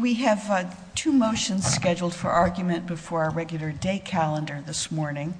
We have two motions scheduled for argument before our regular day calendar this morning.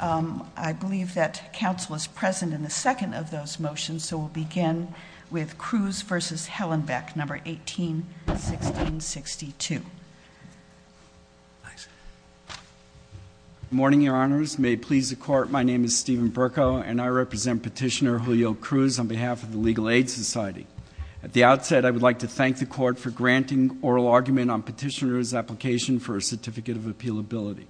I believe that counsel is present in the second of those motions, so we'll begin with Cruz v. Hallenbeck, No. 18-1662. Good morning, Your Honors. May it please the Court, my name is Stephen Berko and I represent Petitioner Julio Cruz on behalf of the Legal Aid Society. At the outset, I would like to grant an oral argument on Petitioner's application for a Certificate of Appealability.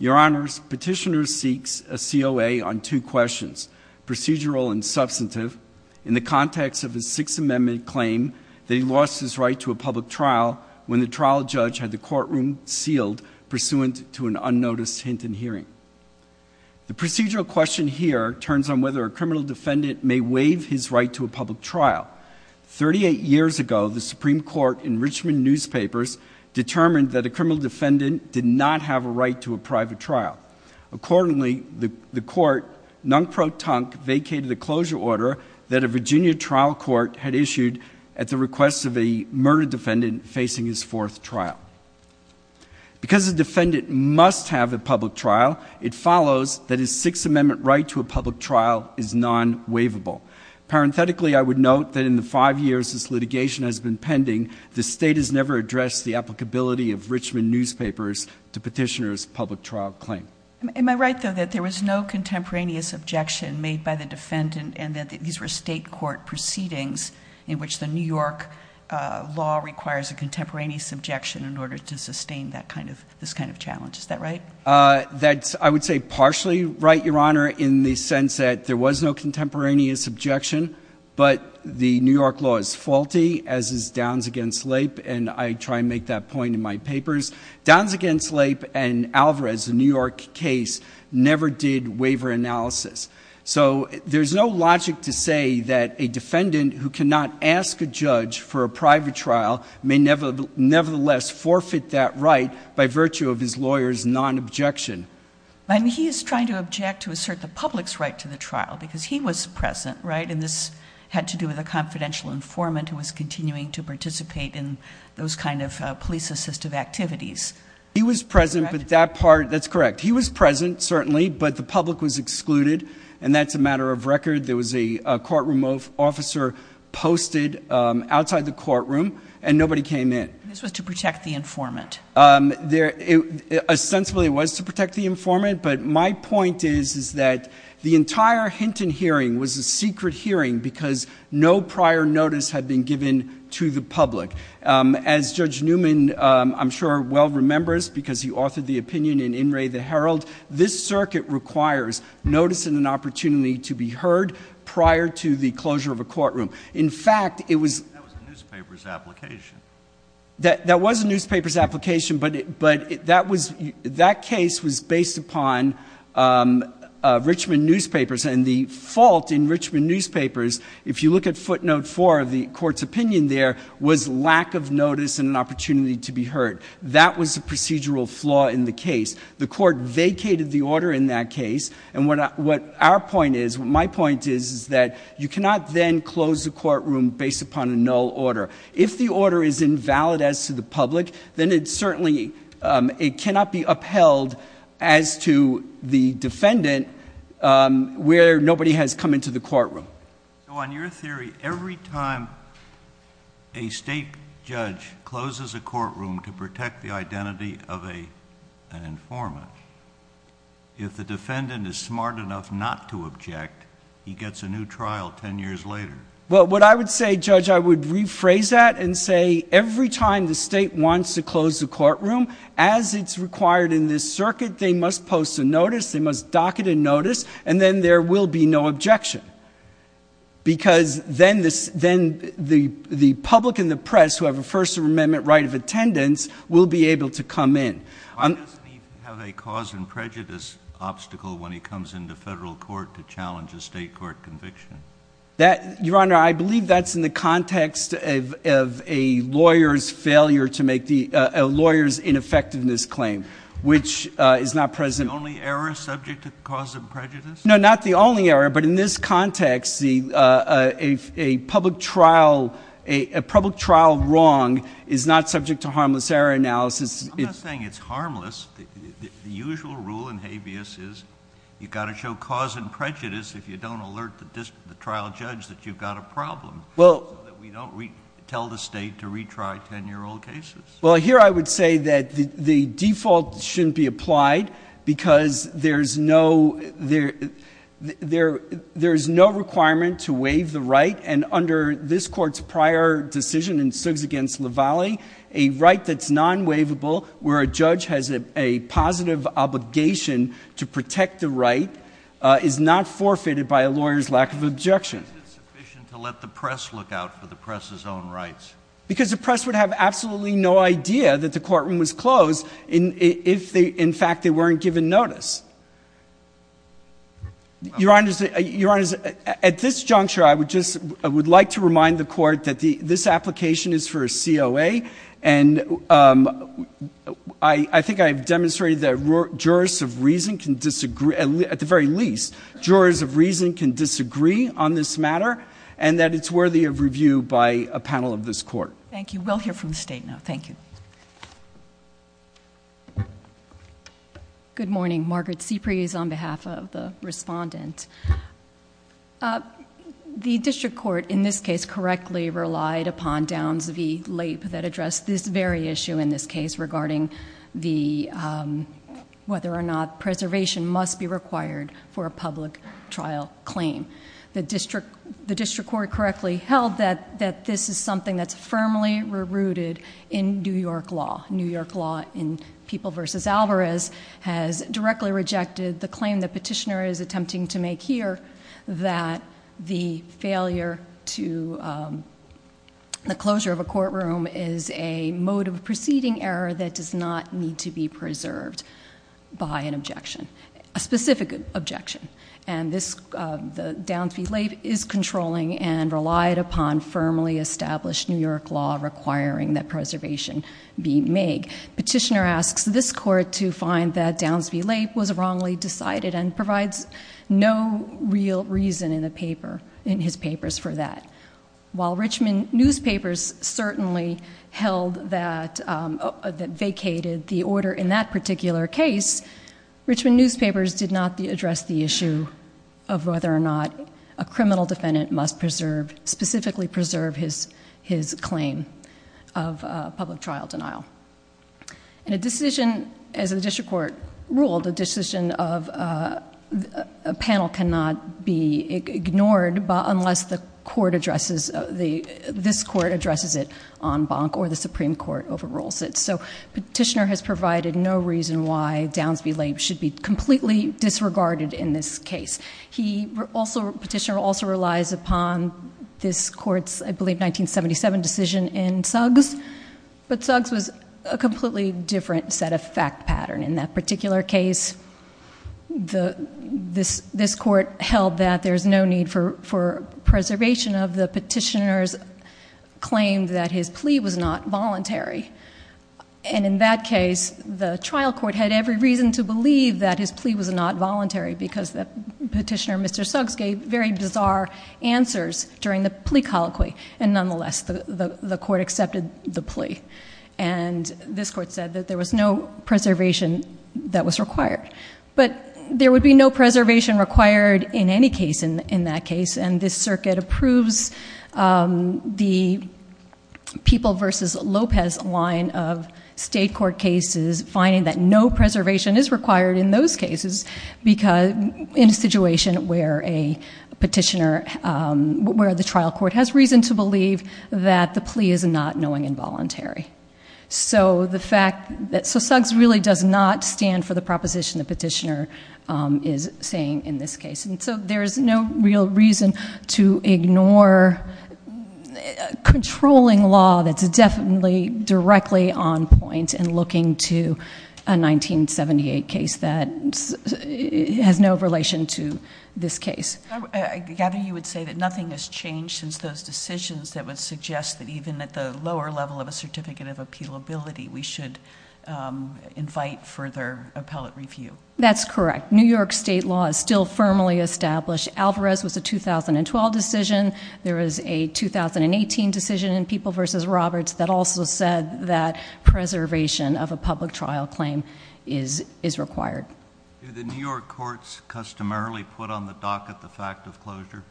Your Honors, Petitioner seeks a COA on two questions, procedural and substantive, in the context of his Sixth Amendment claim that he lost his right to a public trial when the trial judge had the courtroom sealed pursuant to an unnoticed hint in hearing. The procedural question here turns on whether a criminal defendant may waive his right to a public trial. Thirty-eight years ago, the Supreme Court in Richmond Newspapers determined that a criminal defendant did not have a right to a private trial. Accordingly, the Court, non pro tonque, vacated a closure order that a Virginia trial court had issued at the request of a murdered defendant facing his fourth trial. Because a defendant must have a public trial, it follows that his Sixth Amendment right to a public trial is non-waivable. Parenthetically, I would note that in the five years this litigation has been pending, the State has never addressed the applicability of Richmond Newspapers to Petitioner's public trial claim. Am I right, though, that there was no contemporaneous objection made by the defendant and that these were State court proceedings in which the New York law requires a contemporaneous objection in order to sustain that kind of, this kind of challenge? Is that right? That's, I would say, partially right, Your Honor, in the sense that there was no contemporaneous objection, but the New York law is faulty, as is Downs v. Lape, and I try and make that point in my papers. Downs v. Lape and Alvarez, a New York case, never did waiver analysis. So there's no logic to say that a defendant who cannot ask a judge for a private trial may nevertheless forfeit that right by virtue of his lawyer's non-objection. He is trying to object to assert the public's right to the trial because he was present, right, and this had to do with a confidential informant who was continuing to participate in those kind of police assistive activities. He was present, but that part, that's correct. He was present, certainly, but the public was excluded, and that's a matter of record. There was a courtroom officer posted outside the courtroom, and nobody came in. This was to protect the informant. Essentially, it was to protect the informant, but my point is, is that the entire Hinton hearing was a secret hearing because no prior notice had been given to the public. As Judge Newman, I'm sure, well remembers, because he authored the opinion in In Re The Herald, this circuit requires notice and an opportunity to be heard prior to the closure of a courtroom. In fact, it was... That was a newspaper's application. That was a newspaper's application, but that case was based upon Richmond Newspapers, and the fault in Richmond Newspapers, if you look at footnote four of the court's opinion there, was lack of notice and an opportunity to be heard. That was a procedural flaw in the case. The court vacated the order in that case, and what our point is, my point is, is that you cannot then close a courtroom based upon a null order. If the order is invalid as to the public, then it certainly, it cannot be upheld as to the defendant where nobody has come into the courtroom. So on your theory, every time a state judge closes a courtroom to protect the identity of an informant, if the defendant is smart enough not to object, he gets a new trial ten years later? Well, what I would say, Judge, I would rephrase that and say every time the state wants to close a courtroom, as it's required in this circuit, they must post a notice, they must dock it in notice, and then there will be no objection, because then the public and the state can come in. Why doesn't he have a cause and prejudice obstacle when he comes into federal court to challenge a state court conviction? Your Honor, I believe that's in the context of a lawyer's failure to make the, a lawyer's ineffectiveness claim, which is not present. The only error subject to cause and prejudice? No, not the only error, but in this context, a public trial wrong is not subject to harmless error analysis. I'm not saying it's harmless. The usual rule in habeas is you've got to show cause and prejudice if you don't alert the trial judge that you've got a problem, so that we don't tell the state to retry ten-year-old cases. Well, here I would say that the default shouldn't be applied, because there's no, there's no requirement to waive the right, and under this Court's prior decision in Suggs v. Lavalle, a right that's non-waivable, where a judge has a positive obligation to protect the right, is not forfeited by a lawyer's lack of objection. Is it sufficient to let the press look out for the press's own rights? Because the press would have absolutely no idea that the courtroom was closed if they, in fact, they weren't given notice. Your Honor, at this juncture, I would just, I would like to remind the Court that this application is for a COA, and I think I've demonstrated that jurors of reason can disagree, at the very least, jurors of reason can disagree on this matter, and that it's worthy of review by a panel of this Court. Thank you. We'll hear from the State now. Thank you. Good morning. Margaret Cipres on behalf of the Respondent. The District Court, in this case, correctly relied upon Downs v. Lape that addressed this very issue in this case, regarding whether or not preservation must be required for a public trial claim. The District Court correctly held that this is something that's firmly rooted in New York law. New York law in People v. Alvarez has directly rejected the claim that Petitioner is attempting to make here, that the failure to, the closure of a courtroom is a mode of proceeding error that does not need to be preserved by an objection, a specific objection. And this, the Downs v. Lape is controlling and relied upon firmly established New York law requiring that preservation be made. Petitioner asks this Court to find that Downs v. Lape was wrongly decided and provides no real reason in the paper, in his papers for that. While Richmond newspapers certainly held that, vacated the order in that particular case, Richmond newspapers did not address the issue of whether or not a criminal defendant must preserve, specifically preserve his claim of public trial denial. And a decision, as the District Court ruled, a decision of a panel cannot be ignored unless the Court addresses, this Court addresses it en banc or the Supreme Court overrules it. So Petitioner has provided no reason why Downs v. Lape should be completely disregarded in this case. He also, Petitioner also relies upon this Court's, I believe, 1977 decision in Suggs. But Suggs was a completely different set of fact pattern. In that particular case, this Court held that there's no need for preservation of the petitioner's claim that his plea was not voluntary. And in that case, the trial court had every reason to believe that his plea was not voluntary because the petitioner, Mr. Suggs, gave very bizarre answers during the plea colloquy. And nonetheless, the Court accepted the plea. And this Court said that there was no preservation that was required. But there would be no preservation required in any case in that case, and this Circuit approves the People v. Lopez line of state court cases, finding that no preservation is required in those cases in a situation where a petitioner, where the trial court has reason to believe that the plea is not knowing involuntary. So the fact that Suggs really does not stand for the proposition the petitioner is saying in this case. And so there's no real reason to ignore controlling law that's definitely directly on point in looking to a 1978 case that has no relation to this case. I gather you would say that nothing has changed since those decisions that would suggest that even at the lower level of a certificate of appealability, we should invite further appellate review. That's correct. New York state law is still firmly established. Alvarez was a 2012 decision. There was a 2018 decision in People v. Roberts that also said that preservation of a public trial claim is required. Do the New York courts customarily put on the docket the fact of closure?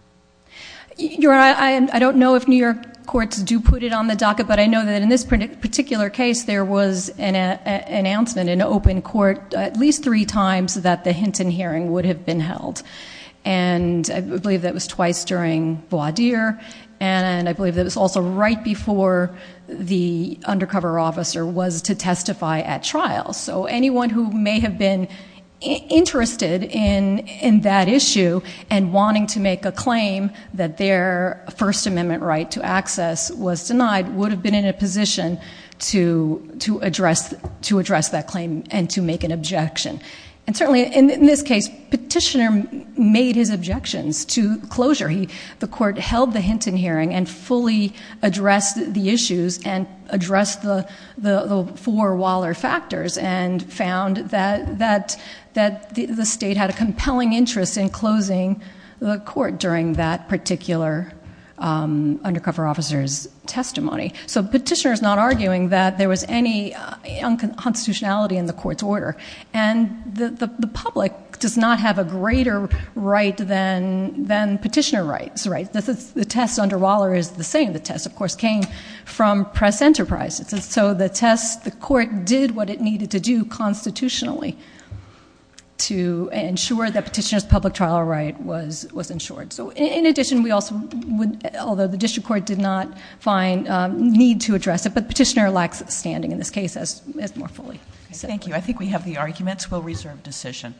Your Honor, I don't know if New York courts do put it on the docket, but I know that in this particular case there was an announcement in open court at least three times that the Hinton hearing would have been held. And I believe that was twice during voir dire, and I believe that was also right before the undercover officer was to testify at trial. So anyone who may have been interested in that issue and wanting to make a claim that their First Amendment right to access was denied would have been in a position to address that claim and to make an objection. And certainly in this case, Petitioner made his objections to closure. The court held the Hinton hearing and fully addressed the issues and addressed the four Waller factors and found that the state had a compelling interest in closing the court during that particular undercover officer's testimony. So Petitioner is not arguing that there was any unconstitutionality in the court's order. And the public does not have a greater right than Petitioner rights. The test under Waller is the same. The test, of course, came from Press Enterprise. So the test, the court did what it needed to do constitutionally to ensure that Petitioner's public trial right was ensured. So in addition, although the district court did not need to address it, but Petitioner lacks standing in this case as more fully said. Thank you. I think we have the arguments. We'll reserve decision.